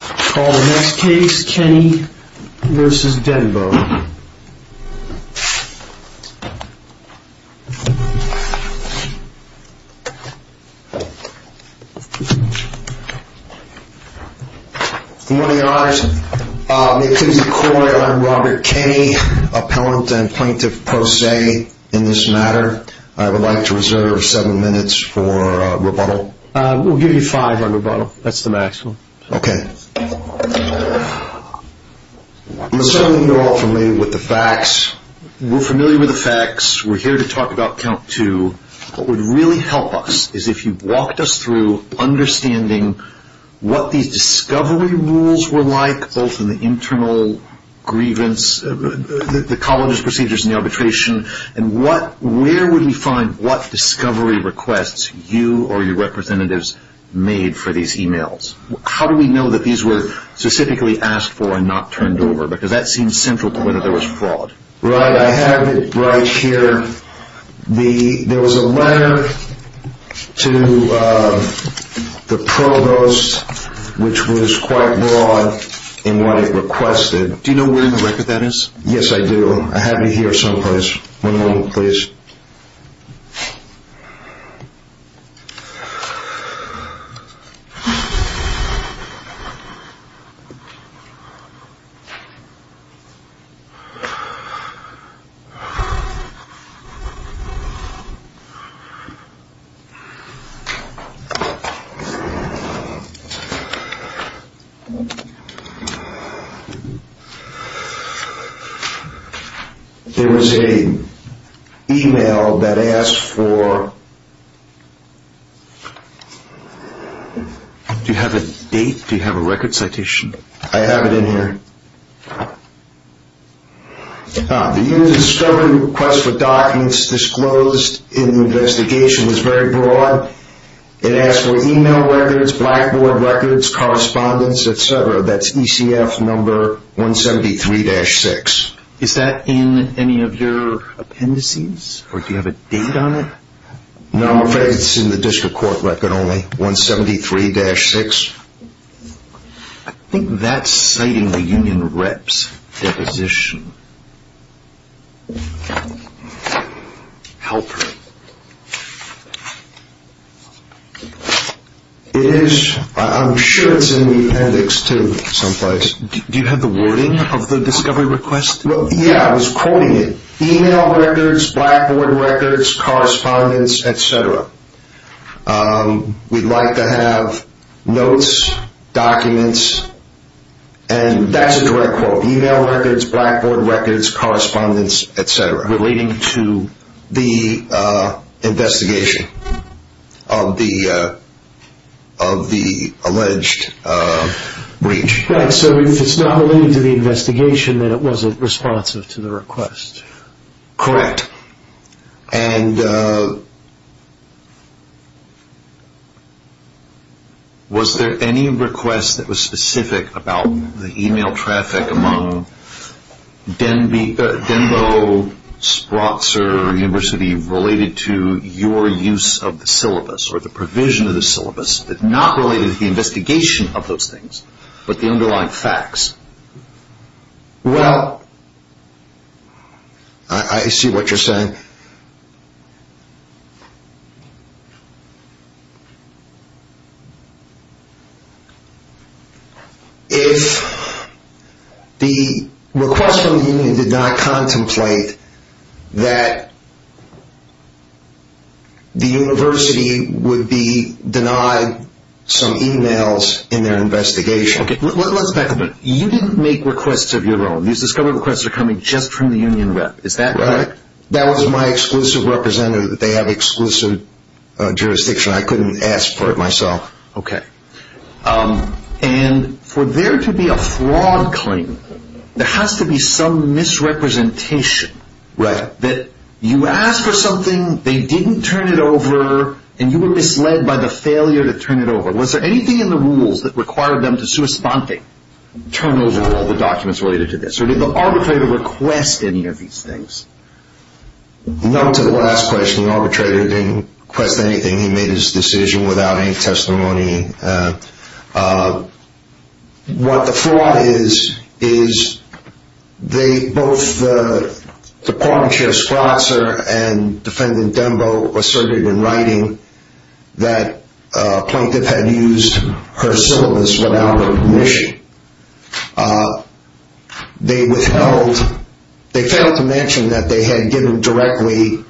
Call the next case, Kenny v. Denbo. Good morning, your honors. May it please the court, I'm Robert Kenny, appellant and plaintiff pro se in this matter. I would like to reserve seven minutes for rebuttal. We'll give you five on rebuttal. That's the maximum. Okay. I'm assuming you're all familiar with the facts. We're familiar with the facts. We're here to talk about count two. What would really help us is if you walked us through understanding what these discovery rules were like, both in the internal grievance, the colonist procedures and the arbitration, and where would we find what discovery requests you or your representatives made for these emails? How do we know that these were specifically asked for and not turned over? Because that seems central to whether there was fraud. Right. I have it right here. There was a letter to the provost which was quite broad in what it requested. Do you know where in the record that is? Yes, I do. I have it here someplace. One moment, please. There was an email that asked for... Do you have a date? Do you have a record citation? I have it in here. The unit's discovery request for documents disclosed in the investigation was very broad. It asked for email records, blackboard records, correspondence, etc. That's ECF number 173-6. Is that in any of your appendices or do you have a date on it? No, I'm afraid it's in the district court record only, 173-6. I think that's citing the union rep's deposition. Help me. It is. I'm sure it's in the appendix too, someplace. Do you have the wording of the discovery request? Yeah, I was quoting it. Email records, blackboard records, correspondence, etc. We'd like to have notes, documents, and that's a direct quote. Email records, blackboard records, correspondence, etc. Relating to the investigation of the alleged breach. Right, so if it's not related to the investigation, then it wasn't responsive to the request. Correct. And was there any request that was specific about the email traffic among Denbo, Sprotzer, or University related to your use of the syllabus or the provision of the syllabus that's not related to the investigation of those things, but the underlying facts? Well, I see what you're saying. If the request from the union did not contemplate that the university would be denied some emails in their investigation. Okay, let's back a minute. You didn't make requests of your own. These discovery requests are coming just from the union rep. Is that correct? Right. That was my exclusive representative. They have exclusive jurisdiction. I couldn't ask for it myself. Okay. And for there to be a fraud claim, there has to be some misrepresentation. Right. That you asked for something, they didn't turn it over, and you were misled by the failure to turn it over. Was there anything in the rules that required them to sui sponte, turn over all the documents related to this? Or did the arbitrator request any of these things? No, to the last question, the arbitrator didn't request anything. He made his decision without any testimony. What the fraud is, is both the Department Chair Spratzer and Defendant Dembo asserted in writing that a plaintiff had used her syllabus without her permission. They failed to mention that they had given directly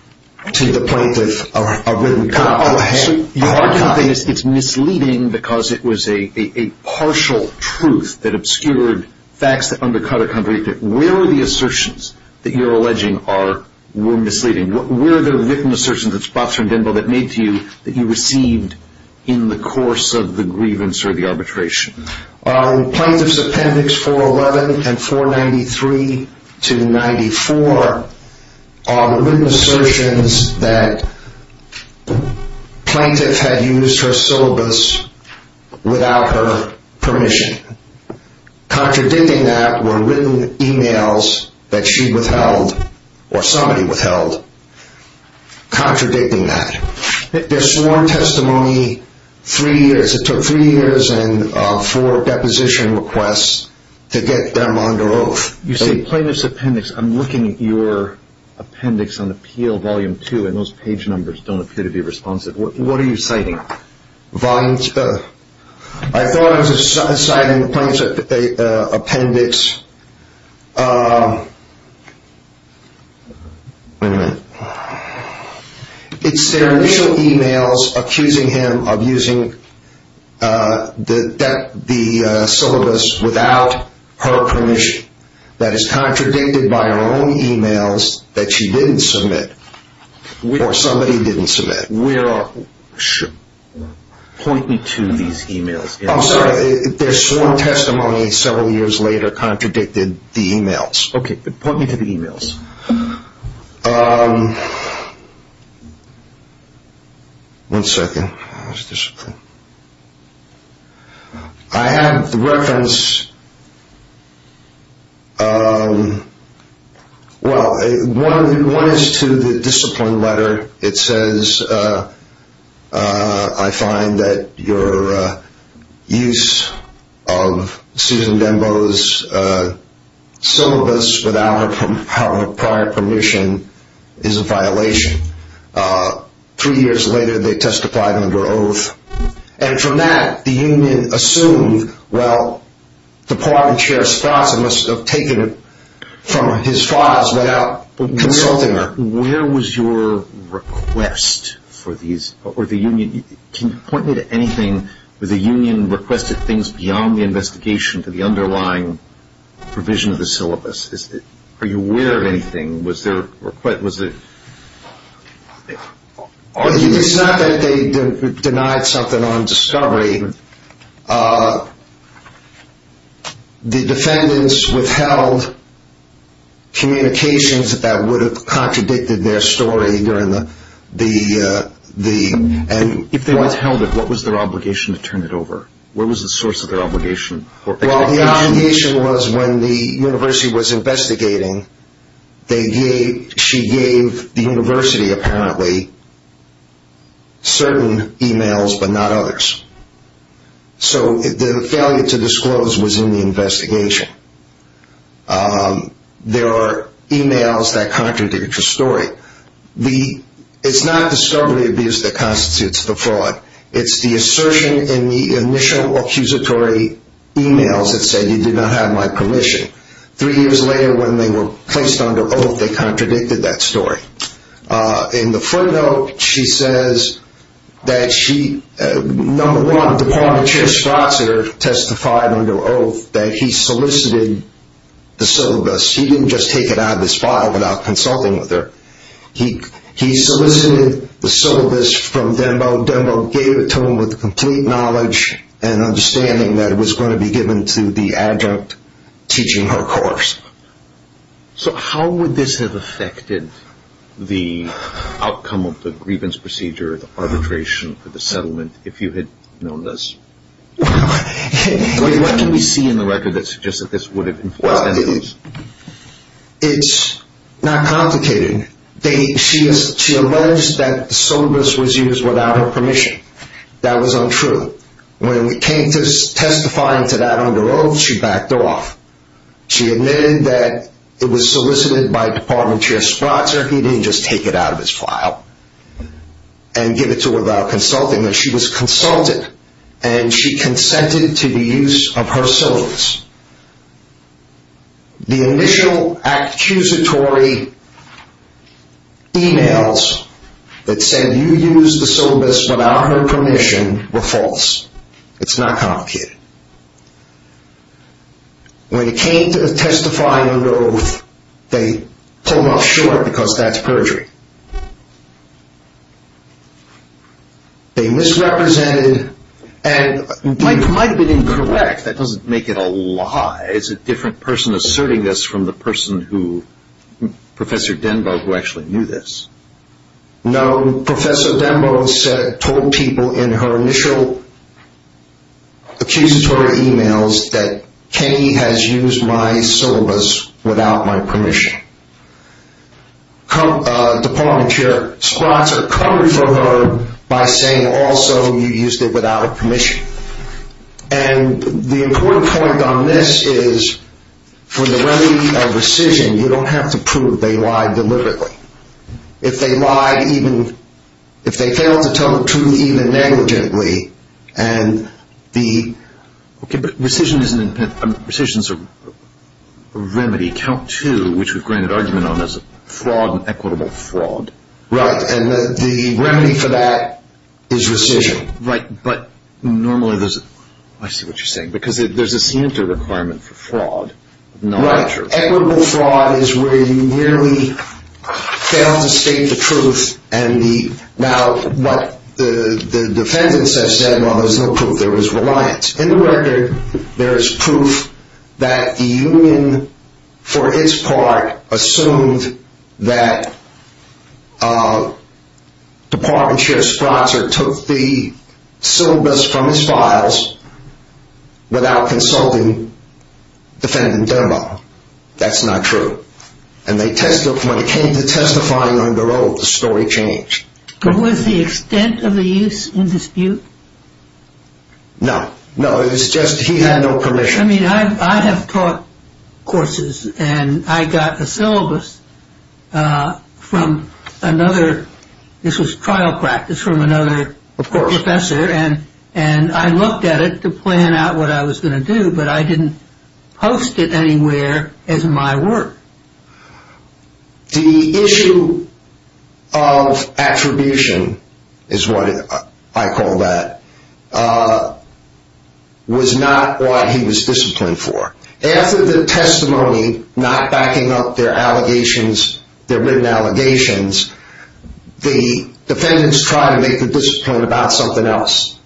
to the plaintiff a written copy. It's misleading because it was a partial truth that obscured facts that undercut a concrete truth. Where are the assertions that you're alleging were misleading? Where are the written assertions that Spratzer and Dembo made to you that you received in the course of the grievance or the arbitration? In Plaintiff's Appendix 411 and 493 to 94 are written assertions that the plaintiff had used her syllabus without her permission. Contradicting that were written emails that she withheld or somebody withheld contradicting that. They're sworn testimony three years. It took three years and four deposition requests to get them under oath. You say Plaintiff's Appendix. I'm looking at your appendix on the PL Volume 2 and those page numbers don't appear to be responsive. What are you citing? I thought I was citing Plaintiff's Appendix. It's their initial emails accusing him of using the syllabus without her permission. That is contradicted by her own emails that she didn't submit or somebody didn't submit. Point me to these emails. Their sworn testimony several years later contradicted the emails. Point me to the emails. One second. Discipline. I have the reference. Well, one is to the discipline letter. It says, I find that your use of Susan Dembow's syllabus without her prior permission is a violation. Three years later, they testified under oath. And from that, the union assumed, well, the pardon chair's thoughts must have taken it from his thoughts without consulting her. Where was your request for these or the union? Can you point me to anything where the union requested things beyond the investigation to the underlying provision of the syllabus? Are you aware of anything? It's not that they denied something on discovery. The defendants withheld communications that would have contradicted their story. If they withheld it, what was their obligation to turn it over? What was the source of their obligation? Well, the obligation was when the university was investigating, she gave the university apparently certain emails but not others. So the failure to disclose was in the investigation. There are emails that contradict your story. It's not discovery abuse that constitutes the fraud. It's the assertion in the initial accusatory emails that said you did not have my permission. Three years later, when they were placed under oath, they contradicted that story. In the front note, she says that she, number one, the pardon chair's thoughts are testified under oath that he solicited the syllabus. He didn't just take it out of his file without consulting with her. He solicited the syllabus from Denbo. Denbo gave it to him with complete knowledge and understanding that it was going to be given to the adjunct teaching her course. So how would this have affected the outcome of the grievance procedure, the arbitration for the settlement, if you had known this? What can we see in the record that suggests that this would have influenced any of this? It's not complicated. She alleged that the syllabus was used without her permission. That was untrue. When it came to testifying to that under oath, she backed off. She admitted that it was solicited by the pardon chair's thoughts or he didn't just take it out of his file and give it to her without consulting. But she was consulted and she consented to the use of her syllabus. The initial accusatory emails that said you used the syllabus without her permission were false. It's not complicated. When it came to testifying under oath, they pulled off short because that's perjury. They misrepresented and might have been incorrect. That doesn't make it a lie. It's a different person asserting this from the person who, Professor Denbo, who actually knew this. No, Professor Denbo said, told people in her initial accusatory emails that Kenny has used my syllabus without my permission. The pardon chair's thoughts are covered for her by saying also you used it without her permission. And the important point on this is for the remedy of rescission, you don't have to prove they lied deliberately. If they lied even, if they failed to tell the truth even negligently, and the ‑‑ But rescission is a remedy. Count two, which we've granted argument on, is fraud and equitable fraud. Right, and the remedy for that is rescission. Right, but normally there's ‑‑ I see what you're saying. Because there's a scienter requirement for fraud. Right, equitable fraud is where you merely fail to state the truth and now what the defendants have said, well, there's no proof. There was reliance. In the record, there is proof that the union, for its part, assumed that the pardon chair's thoughts or took the syllabus from his files without consulting defendant Denbo. That's not true. And they testified, when it came to testifying under oath, the story changed. Was the extent of the use in dispute? No, no, it's just he had no permission. I mean, I have taught courses and I got a syllabus from another ‑‑ this was trial practice from another professor. And I looked at it to plan out what I was going to do, but I didn't post it anywhere as my work. The issue of attribution is what I call that, was not what he was disciplined for. After the testimony, not backing up their allegations, their written allegations, the defendants tried to make the discipline about something else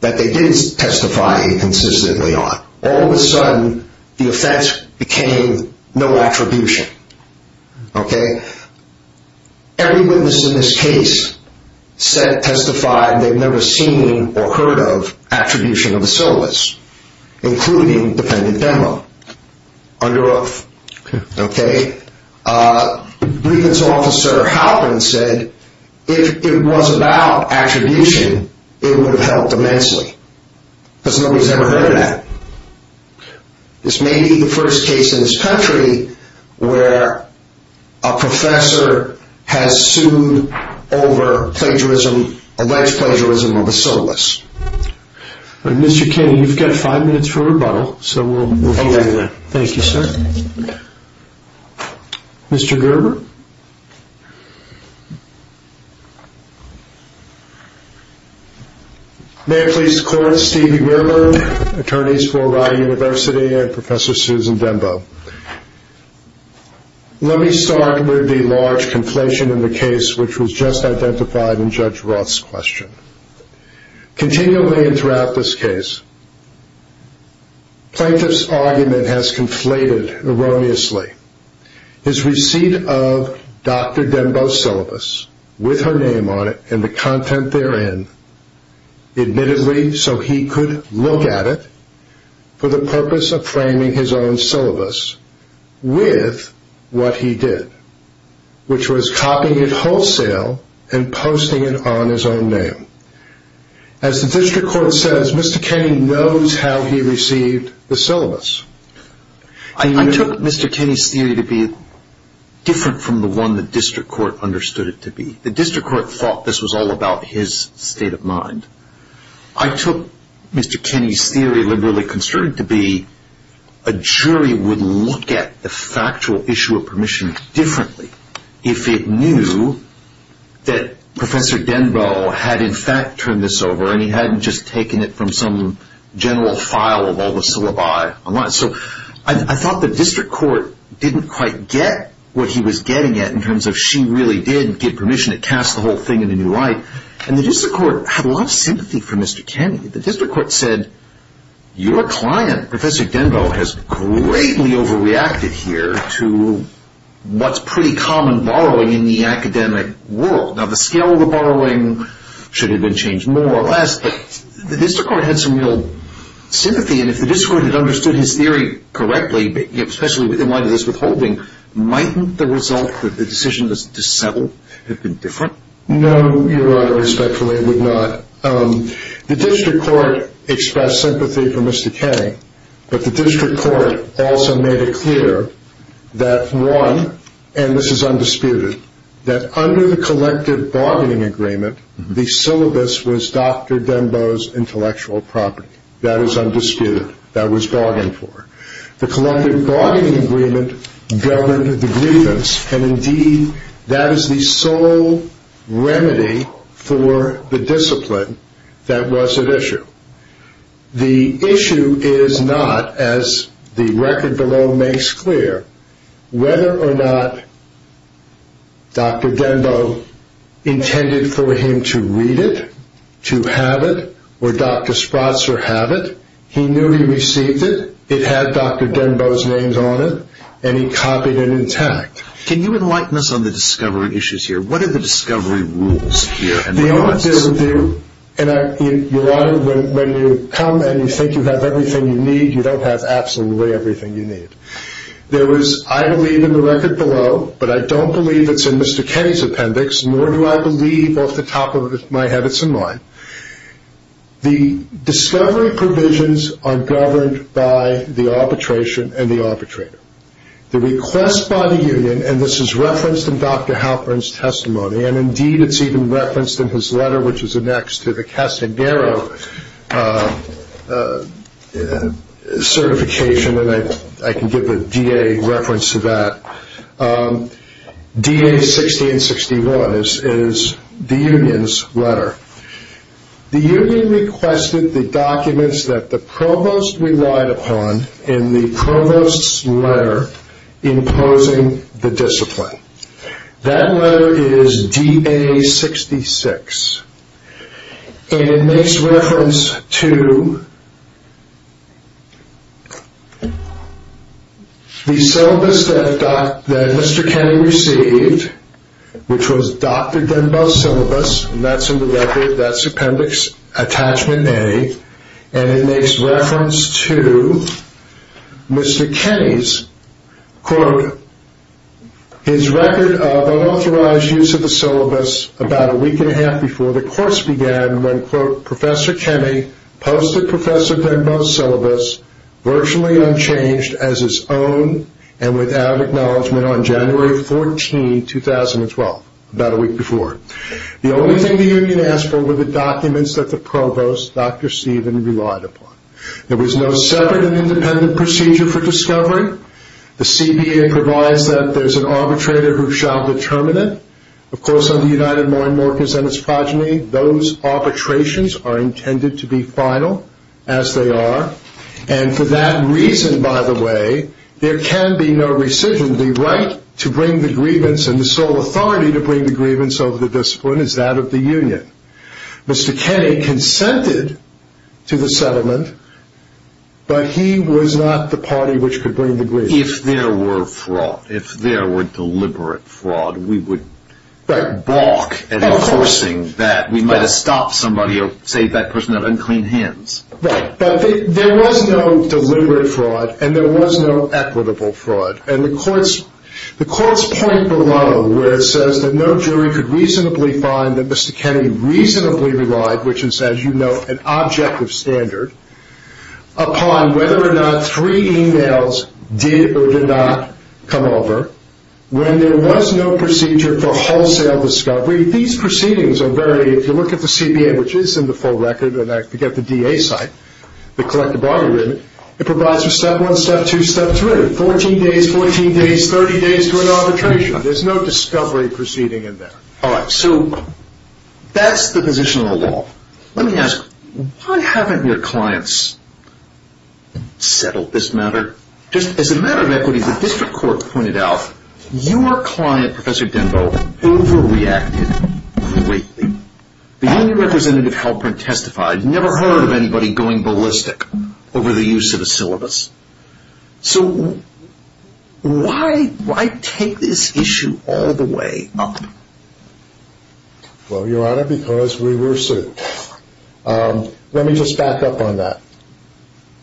that they did testify consistently on. All of a sudden, the offense became no attribution. Okay? Every witness in this case testified they've never seen or heard of attribution of a syllabus, including defendant Denbo, under oath. Okay? Briefing Officer Halpin said, if it was about attribution, it would have helped immensely. Because nobody's ever heard of that. This may be the first case in this country where a professor has sued over plagiarism, alleged plagiarism of a syllabus. Mr. Kennedy, you've got five minutes for rebuttal, so we'll get you there. Okay. Thank you, sir. Mr. Gerber? May I please call Steve Gerber, attorneys for Rye University, and Professor Susan Denbo. Let me start with the large conflation in the case which was just identified in Judge Roth's question. Continually and throughout this case, plaintiff's argument has conflated erroneously. His receipt of Dr. Denbo's syllabus, with her name on it and the content therein, admittedly so he could look at it, for the purpose of framing his own syllabus with what he did, which was copying it wholesale and posting it on his own name. As the district court says, Mr. Kennedy knows how he received the syllabus. I took Mr. Kennedy's theory to be different from the one the district court understood it to be. The district court thought this was all about his state of mind. I took Mr. Kennedy's theory, liberally construed to be a jury would look at the factual issue of permission differently if it knew that Professor Denbo had, in fact, turned this over, and he hadn't just taken it from some general file of all the syllabi online. So I thought the district court didn't quite get what he was getting at in terms of she really did get permission. It cast the whole thing in a new light. And the district court had a lot of sympathy for Mr. Kennedy. The district court said, your client, Professor Denbo, has greatly overreacted here to what's pretty common borrowing in the academic world. Now, the scale of the borrowing should have been changed more or less, but the district court had some real sympathy. And if the district court had understood his theory correctly, especially in light of this withholding, mightn't the result, the decision to settle, have been different? No, Your Honor, respectfully, it would not. The district court expressed sympathy for Mr. Kennedy, but the district court also made it clear that, one, and this is undisputed, that under the collective bargaining agreement, the syllabus was Dr. Denbo's intellectual property. That is undisputed. That was bargained for. The collective bargaining agreement governed the grievance. And, indeed, that is the sole remedy for the discipline that was at issue. The issue is not, as the record below makes clear, whether or not Dr. Denbo intended for him to read it, to have it, or Dr. Spratzer have it. He knew he received it, it had Dr. Denbo's name on it, and he copied it intact. Can you enlighten us on the discovery issues here? What are the discovery rules here? Your Honor, when you come and you think you have everything you need, you don't have absolutely everything you need. I believe in the record below, but I don't believe it's in Mr. Kennedy's appendix, nor do I believe off the top of my habits and mind. The discovery provisions are governed by the arbitration and the arbitrator. The request by the union, and this is referenced in Dr. Halpern's testimony, and, indeed, it's even referenced in his letter, which is annexed to the Castanero certification, and I can give the DA reference to that, DA 1661 is the union's letter. The union requested the documents that the provost relied upon in the provost's letter imposing the discipline. That letter is DA 66, and it makes reference to the syllabus that Mr. Kennedy received, which was Dr. Denbo's syllabus, and that's in the record, that's appendix attachment A, and it makes reference to Mr. Kennedy's, quote, his record of unauthorized use of the syllabus about a week and a half before the course began, when, quote, Professor Kennedy posted Professor Denbo's syllabus virtually unchanged as his own and without acknowledgment on January 14, 2012, about a week before. The only thing the union asked for were the documents that the provost, Dr. Stephen, relied upon. There was no separate and independent procedure for discovery. The CBA provides that there's an arbitrator who shall determine it. Of course, under United Morin Morgens and its progeny, those arbitrations are intended to be final, as they are, and for that reason, by the way, there can be no rescission. The right to bring the grievance and the sole authority to bring the grievance over the discipline is that of the union. Mr. Kennedy consented to the settlement, but he was not the party which could bring the grievance. If there were fraud, if there were deliberate fraud, we would balk at enforcing that. We might have stopped somebody or saved that person of unclean hands. Right, but there was no deliberate fraud, and there was no equitable fraud, and the courts point below where it says that no jury could reasonably find that Mr. Kennedy reasonably relied, which is, as you know, an objective standard, upon whether or not three e-mails did or did not come over. When there was no procedure for wholesale discovery, these proceedings are very, if you look at the CBA, which is in the full record, and I forget the DA site, the collective bargaining agreement, it provides for step one, step two, step three, 14 days, 14 days, 30 days to an arbitration. There's no discovery proceeding in there. All right, so that's the position of the law. Let me ask, why haven't your clients settled this matter? Just as a matter of equity, the district court pointed out your client, Professor Denbo, overreacted greatly. The union representative, Halprin, testified, never heard of anybody going ballistic over the use of a syllabus. So why take this issue all the way up? Well, Your Honor, because we were sued. Let me just back up on that.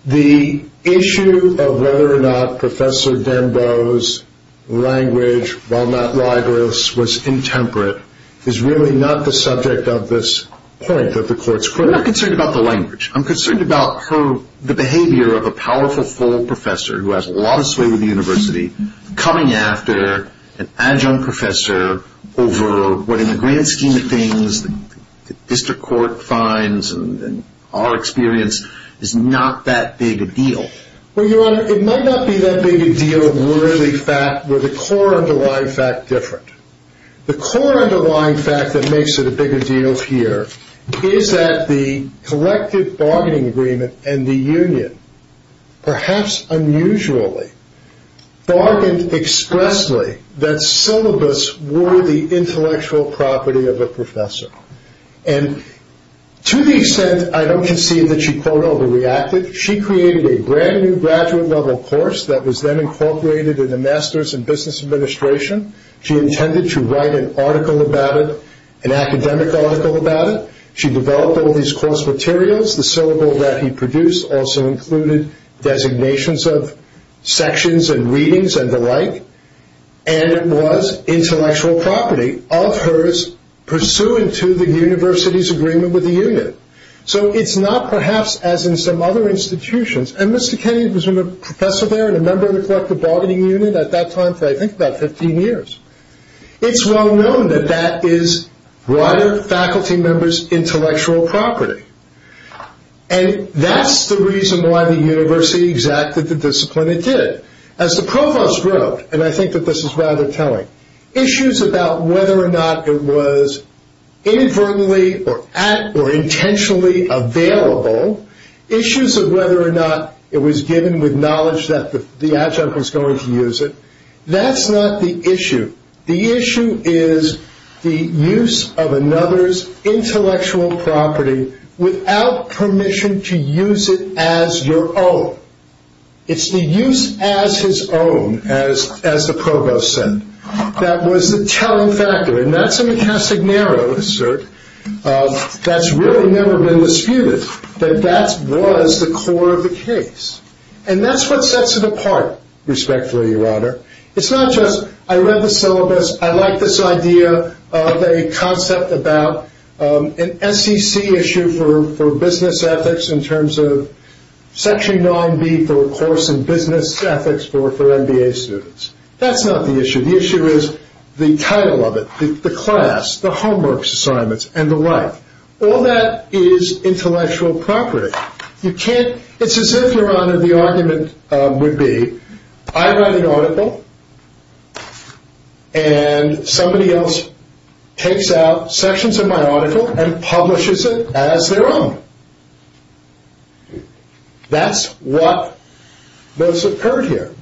The issue of whether or not Professor Denbo's language, while not rigorous, was intemperate, is really not the subject of this point that the court's critical. I'm not concerned about the language. I'm concerned about the behavior of a powerful full professor who has a lot of sway with the university, coming after an adjunct professor over what in the grand scheme of things the district court finds and our experience is not that big a deal. Well, Your Honor, it might not be that big a deal were the core underlying fact different. The core underlying fact that makes it a bigger deal here is that the collective bargaining agreement and the union perhaps unusually bargained expressly that syllabus were the intellectual property of a professor. And to the extent I don't concede that she, quote, overreacted, she created a brand new graduate level course that was then incorporated in the Masters in Business Administration. She intended to write an article about it, an academic article about it. She developed all these course materials. The syllabus that he produced also included designations of sections and readings and the like. And it was intellectual property of hers pursuant to the university's agreement with the union. So it's not perhaps as in some other institutions. And Mr. Kennedy was a professor there and a member of the collective bargaining unit at that time for I think about 15 years. It's well known that that is wider faculty members' intellectual property. And that's the reason why the university exacted the discipline it did. As the provost wrote, and I think that this is rather telling, issues about whether or not it was inadvertently or at or intentionally available, issues of whether or not it was given with knowledge that the adjunct was going to use it, that's not the issue. The issue is the use of another's intellectual property without permission to use it as your own. It's the use as his own, as the provost said, that was the telling factor. And that's a Casagnaro assert that's really never been disputed, that that was the core of the case. And that's what sets it apart, respectfully, Your Honor. It's not just I read the syllabus, I like this idea of a concept about an SEC issue for business ethics in terms of Section 9B for course in business ethics for MBA students. That's not the issue. The issue is the title of it, the class, the homework assignments, and the like. All that is intellectual property. It's as if, Your Honor, the argument would be, I write an article and somebody else takes out sections of my article and publishes it as their own. That's what has occurred here.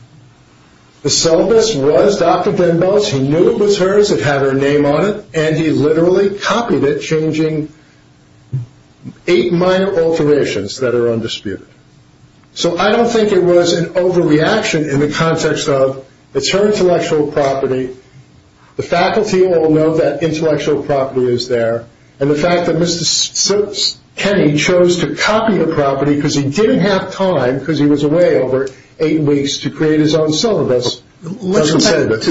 The syllabus was Dr. Denbo's, he knew it was hers, it had her name on it, and he literally copied it changing eight minor alterations that are undisputed. So I don't think it was an overreaction in the context of, it's her intellectual property, the faculty all know that intellectual property is there, and the fact that Mr. Kenny chose to copy the property because he didn't have time, because he was away over eight weeks, to create his own syllabus doesn't set it apart. Let's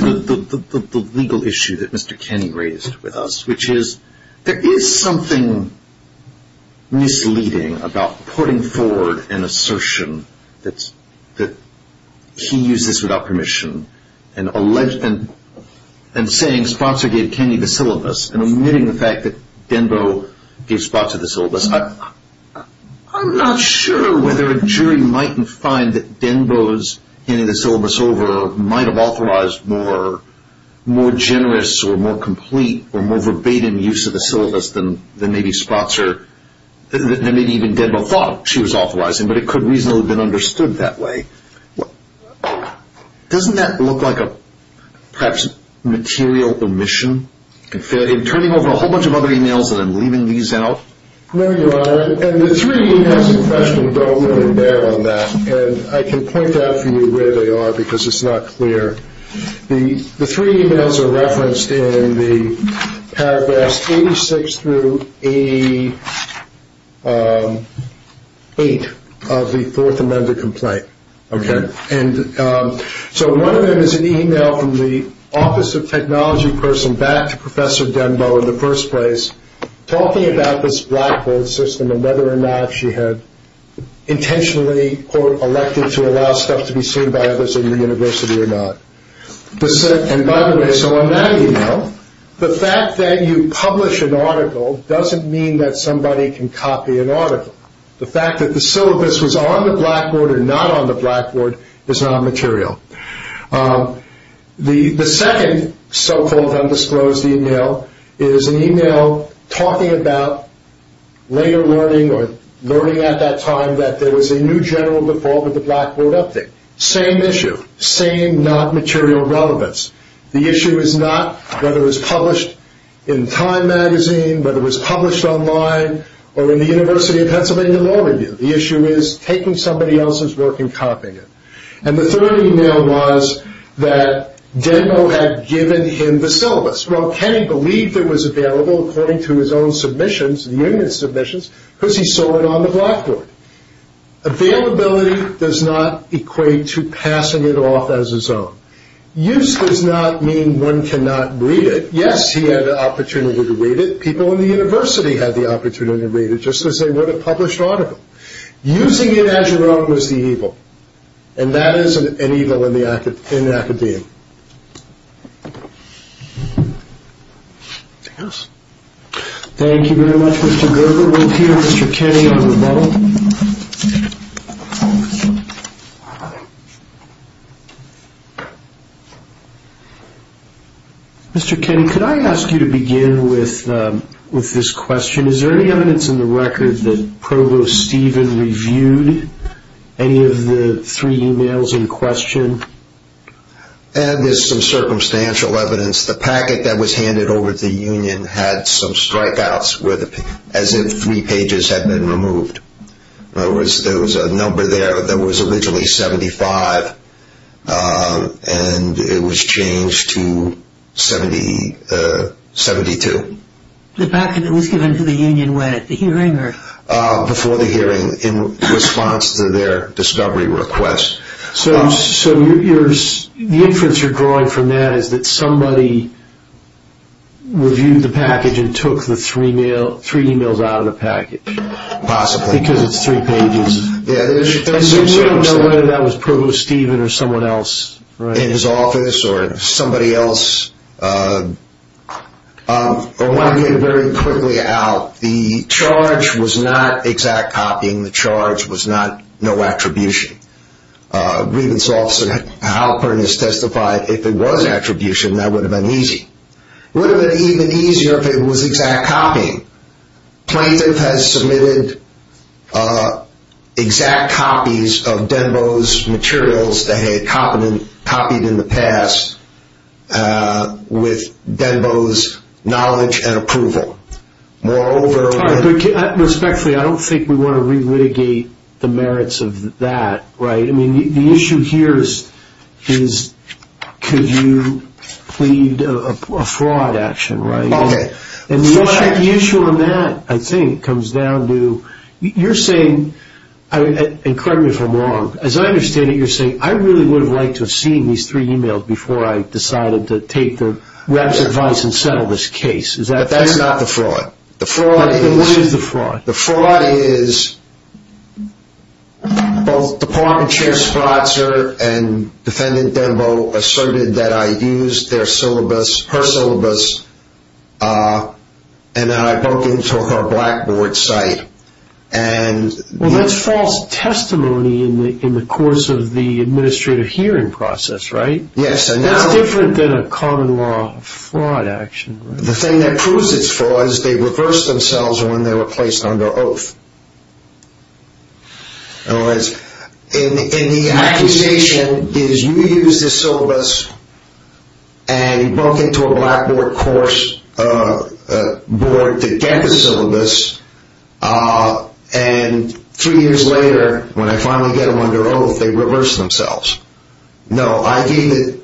go back to the legal issue that Mr. Kenny raised with us, which is there is something misleading about putting forward an assertion that he used this without permission and saying Spotser gave Kenny the syllabus and omitting the fact that Denbo gave Spotser the syllabus. I'm not sure whether a jury might find that Denbo's handing the syllabus over might have authorized more generous or more complete or more verbatim use of the syllabus than maybe Spotser, than maybe even Denbo thought she was authorizing, but it could reasonably have been understood that way. Doesn't that look like a perhaps material omission, in turning over a whole bunch of other emails and then leaving these out? No, Your Honor, and the three emails in question don't really bear on that, and I can point out for you where they are because it's not clear. The three emails are referenced in the paragraphs 86 through 88 of the Fourth Amendment complaint, and so one of them is an email from the Office of Technology person back to Professor Denbo in the first place, talking about this blackboard system and whether or not she had intentionally, quote, elected to allow stuff to be seen by others in the university or not. And by the way, so on that email, the fact that you publish an article doesn't mean that somebody can copy an article. The fact that the syllabus was on the blackboard or not on the blackboard is not material. The second so-called undisclosed email is an email talking about later learning or learning at that time that there was a new general default of the blackboard update. Same issue, same not material relevance. The issue is not whether it was published in Time magazine, whether it was published online, or in the University of Pennsylvania Law Review. The issue is taking somebody else's work and copying it. And the third email was that Denbo had given him the syllabus. Well, Kenny believed it was available according to his own submissions, the union's submissions, because he saw it on the blackboard. Availability does not equate to passing it off as his own. Use does not mean one cannot read it. Yes, he had the opportunity to read it. People in the university had the opportunity to read it, just as they would a published article. Using it as your own was the evil. And that is an evil in the academia. Thank you very much, Mr. Gerber. We'll hear Mr. Kenny on rebuttal. Mr. Kenny, could I ask you to begin with this question? Is there any evidence in the record that Provost Stephen reviewed any of the three emails in question? There's some circumstantial evidence. The packet that was handed over to the union had some strikeouts, as if three pages had been removed. There was a number there that was originally 75, and it was changed to 72. The packet that was given to the union when, at the hearing? Before the hearing, in response to their discovery request. So the inference you're drawing from that is that somebody reviewed the package and took the three emails out of the package. Possibly. Because it's three pages. And we don't know whether that was Provost Stephen or someone else. In his office or somebody else. I want to get very quickly out. The charge was not exact copying. The charge was not no attribution. Grievance Officer Halpern has testified if it was attribution, that would have been easy. It would have been even easier if it was exact copying. Plaintiff has submitted exact copies of Denbo's materials they had copied in the past with Denbo's knowledge and approval. Respectfully, I don't think we want to re-litigate the merits of that. The issue here is could you plead a fraud action. The issue on that, I think, comes down to you're saying, and correct me if I'm wrong, as I understand it you're saying I really would have liked to have seen these three emails before I decided to take the rep's advice and settle this case. But that's not the fraud. What is the fraud? The fraud is both Department Chair Spratzer and Defendant Denbo asserted that I used their syllabus, her syllabus, and I broke into her Blackboard site. Well, that's false testimony in the course of the administrative hearing process, right? Yes. That's different than a common law fraud action. The thing that proves it's fraud is they reversed themselves when they were placed under oath. In other words, in the accusation is you used the syllabus and you broke into a Blackboard course board to get the syllabus, and three years later when I finally get them under oath they reverse themselves. No, I gave it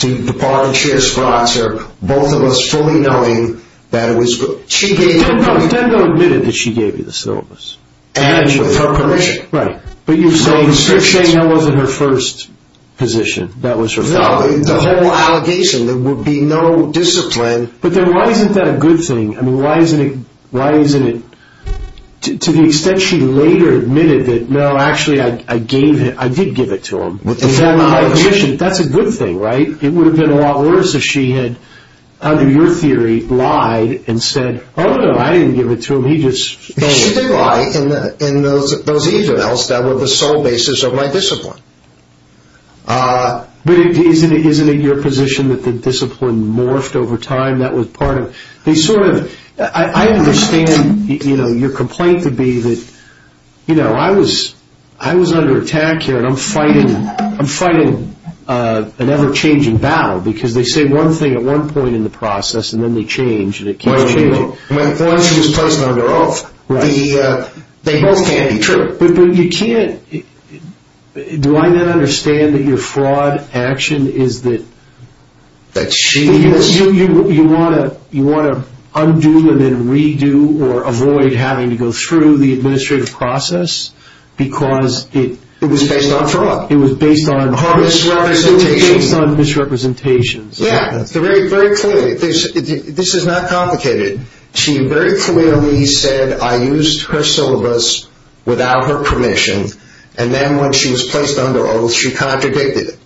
to Department Chair Spratzer, both of us fully knowing that it was... No, Defendant Denbo admitted that she gave you the syllabus. And with her permission. Right, but you're saying that wasn't her first position. No, the whole allegation, there would be no discipline... But then why isn't that a good thing? I mean, why isn't it... to the extent she later admitted that, no, actually I gave it, I did give it to him, with my permission, that's a good thing, right? It would have been a lot worse if she had, under your theory, lied and said, oh, no, I didn't give it to him, he just... She did lie in those emails that were the sole basis of my discipline. But isn't it your position that the discipline morphed over time? I understand your complaint to be that, you know, I was under attack here, and I'm fighting an ever-changing battle, because they say one thing at one point in the process, and then they change, and it keeps changing. Well, once you just post it under oath, they both can't be true. But you can't... do I then understand that your fraud action is that... That she... You want to undo and then redo or avoid having to go through the administrative process, because it... It was based on fraud. It was based on... Misrepresentation. It was based on misrepresentation. Yeah, very clearly. This is not complicated. She very clearly said, I used her syllabus without her permission, and then when she was placed under oath, she contradicted it.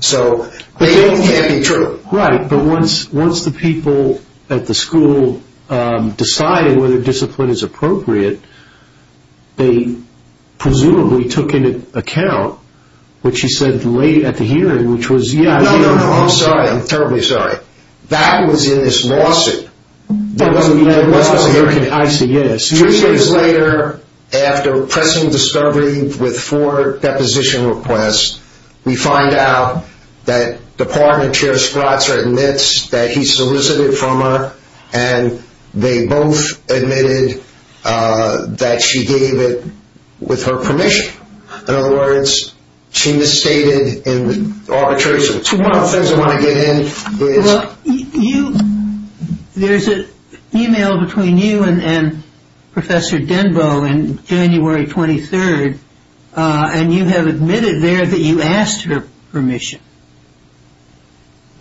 So they both can't be true. Right, but once the people at the school decided whether discipline is appropriate, they presumably took into account what she said late at the hearing, which was, yeah... No, no, no, I'm sorry. I'm terribly sorry. That was in this lawsuit. That was in the American ICS. Two days later, after pressing discovery with four deposition requests, we find out that Department Chair Spratzer admits that he solicited from her, and they both admitted that she gave it with her permission. In other words, she misstated in the arbitration. So one of the things I want to get in is... Well, you... There's an email between you and Professor Denbo in January 23rd, and you have admitted there that you asked her permission.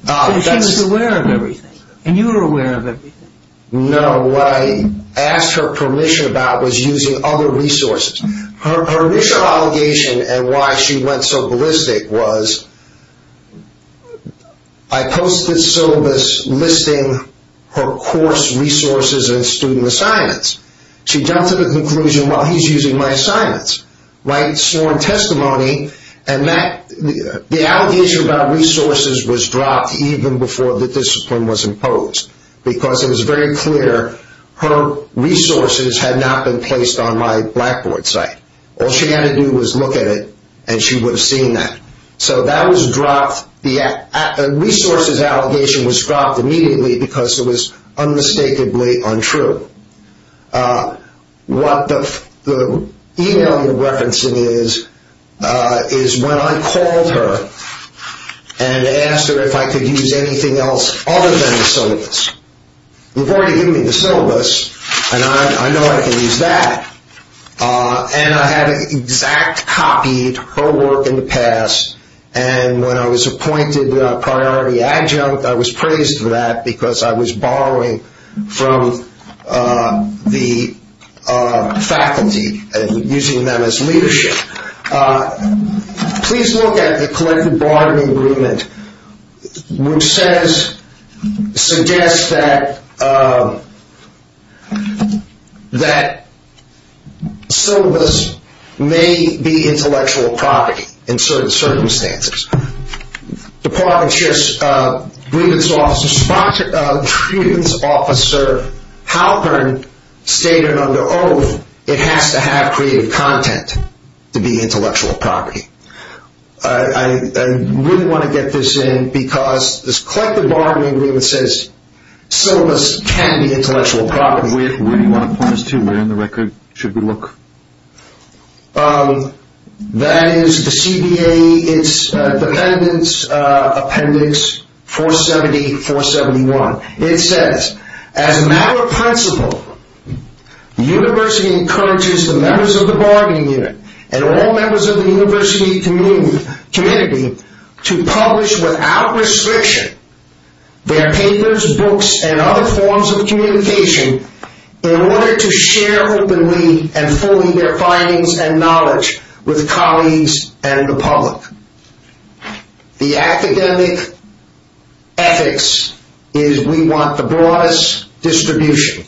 Because she was aware of everything, and you were aware of everything. No, what I asked her permission about was using other resources. Her original allegation and why she went so ballistic was, I posted syllabus listing her course resources and student assignments. She jumped to the conclusion, well, he's using my assignments. Right? Sworn testimony. And the allegation about resources was dropped even before the discipline was imposed. Because it was very clear her resources had not been placed on my Blackboard site. All she had to do was look at it, and she would have seen that. So that was dropped. The resources allegation was dropped immediately because it was unmistakably untrue. What the email you're referencing is, is when I called her and asked her if I could use anything else other than the syllabus. You've already given me the syllabus, and I know I can use that. And I had an exact copy of her work in the past. And when I was appointed priority adjunct, I was praised for that because I was borrowing from the faculty and using them as leadership. Please look at the collective bargaining agreement, which suggests that syllabus may be intellectual property in certain circumstances. Department chair's grievance officer Halpern stated under oath, it has to have creative content to be intellectual property. I really want to get this in because this collective bargaining agreement says syllabus can be intellectual property. Where do you want to point us to? Where in the record should we look? That is the CBA, it's dependence appendix 470-471. It says, as a matter of principle, the university encourages the members of the bargaining unit and all members of the university community to publish without restriction their papers, books, and other forms of communication in order to share openly and fully their findings and knowledge with colleagues and the public. The academic ethics is we want the broadest distribution.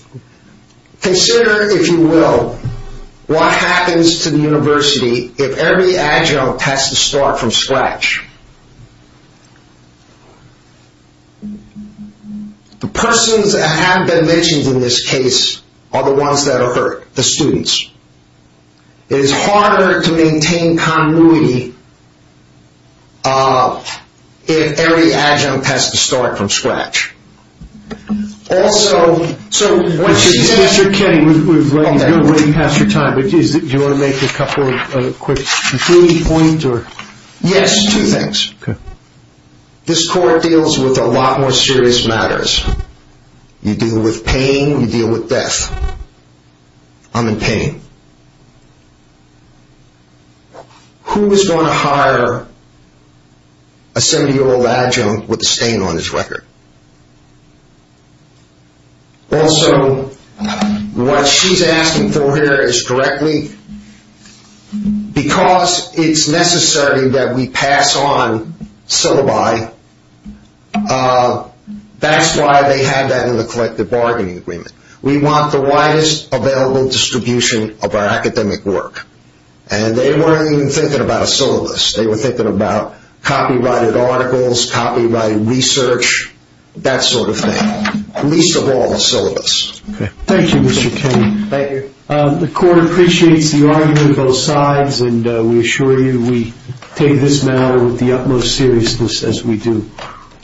Consider, if you will, what happens to the university if every adjunct has to start from scratch. The persons that have been mentioned in this case are the ones that are hurt, the students. It is harder to maintain continuity if every adjunct has to start from scratch. Also, so when she says... Mr. Kenny, we're running past your time, but do you want to make a couple of quick concluding points? Yes, two things. This court deals with a lot more serious matters. You deal with pain, you deal with death. I'm in pain. Who is going to hire a 70-year-old adjunct with a stain on his record? Also, what she's asking for here is directly... She's asserting that we pass on syllabi. That's why they have that in the collective bargaining agreement. We want the widest available distribution of our academic work. And they weren't even thinking about a syllabus. They were thinking about copyrighted articles, copyrighted research, that sort of thing. Least of all a syllabus. Thank you, Mr. Kenny. The court appreciates the argument of both sides, and we assure you we take this matter with the utmost seriousness as we do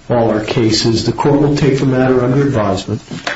all our cases. The court will take the matter under advisement.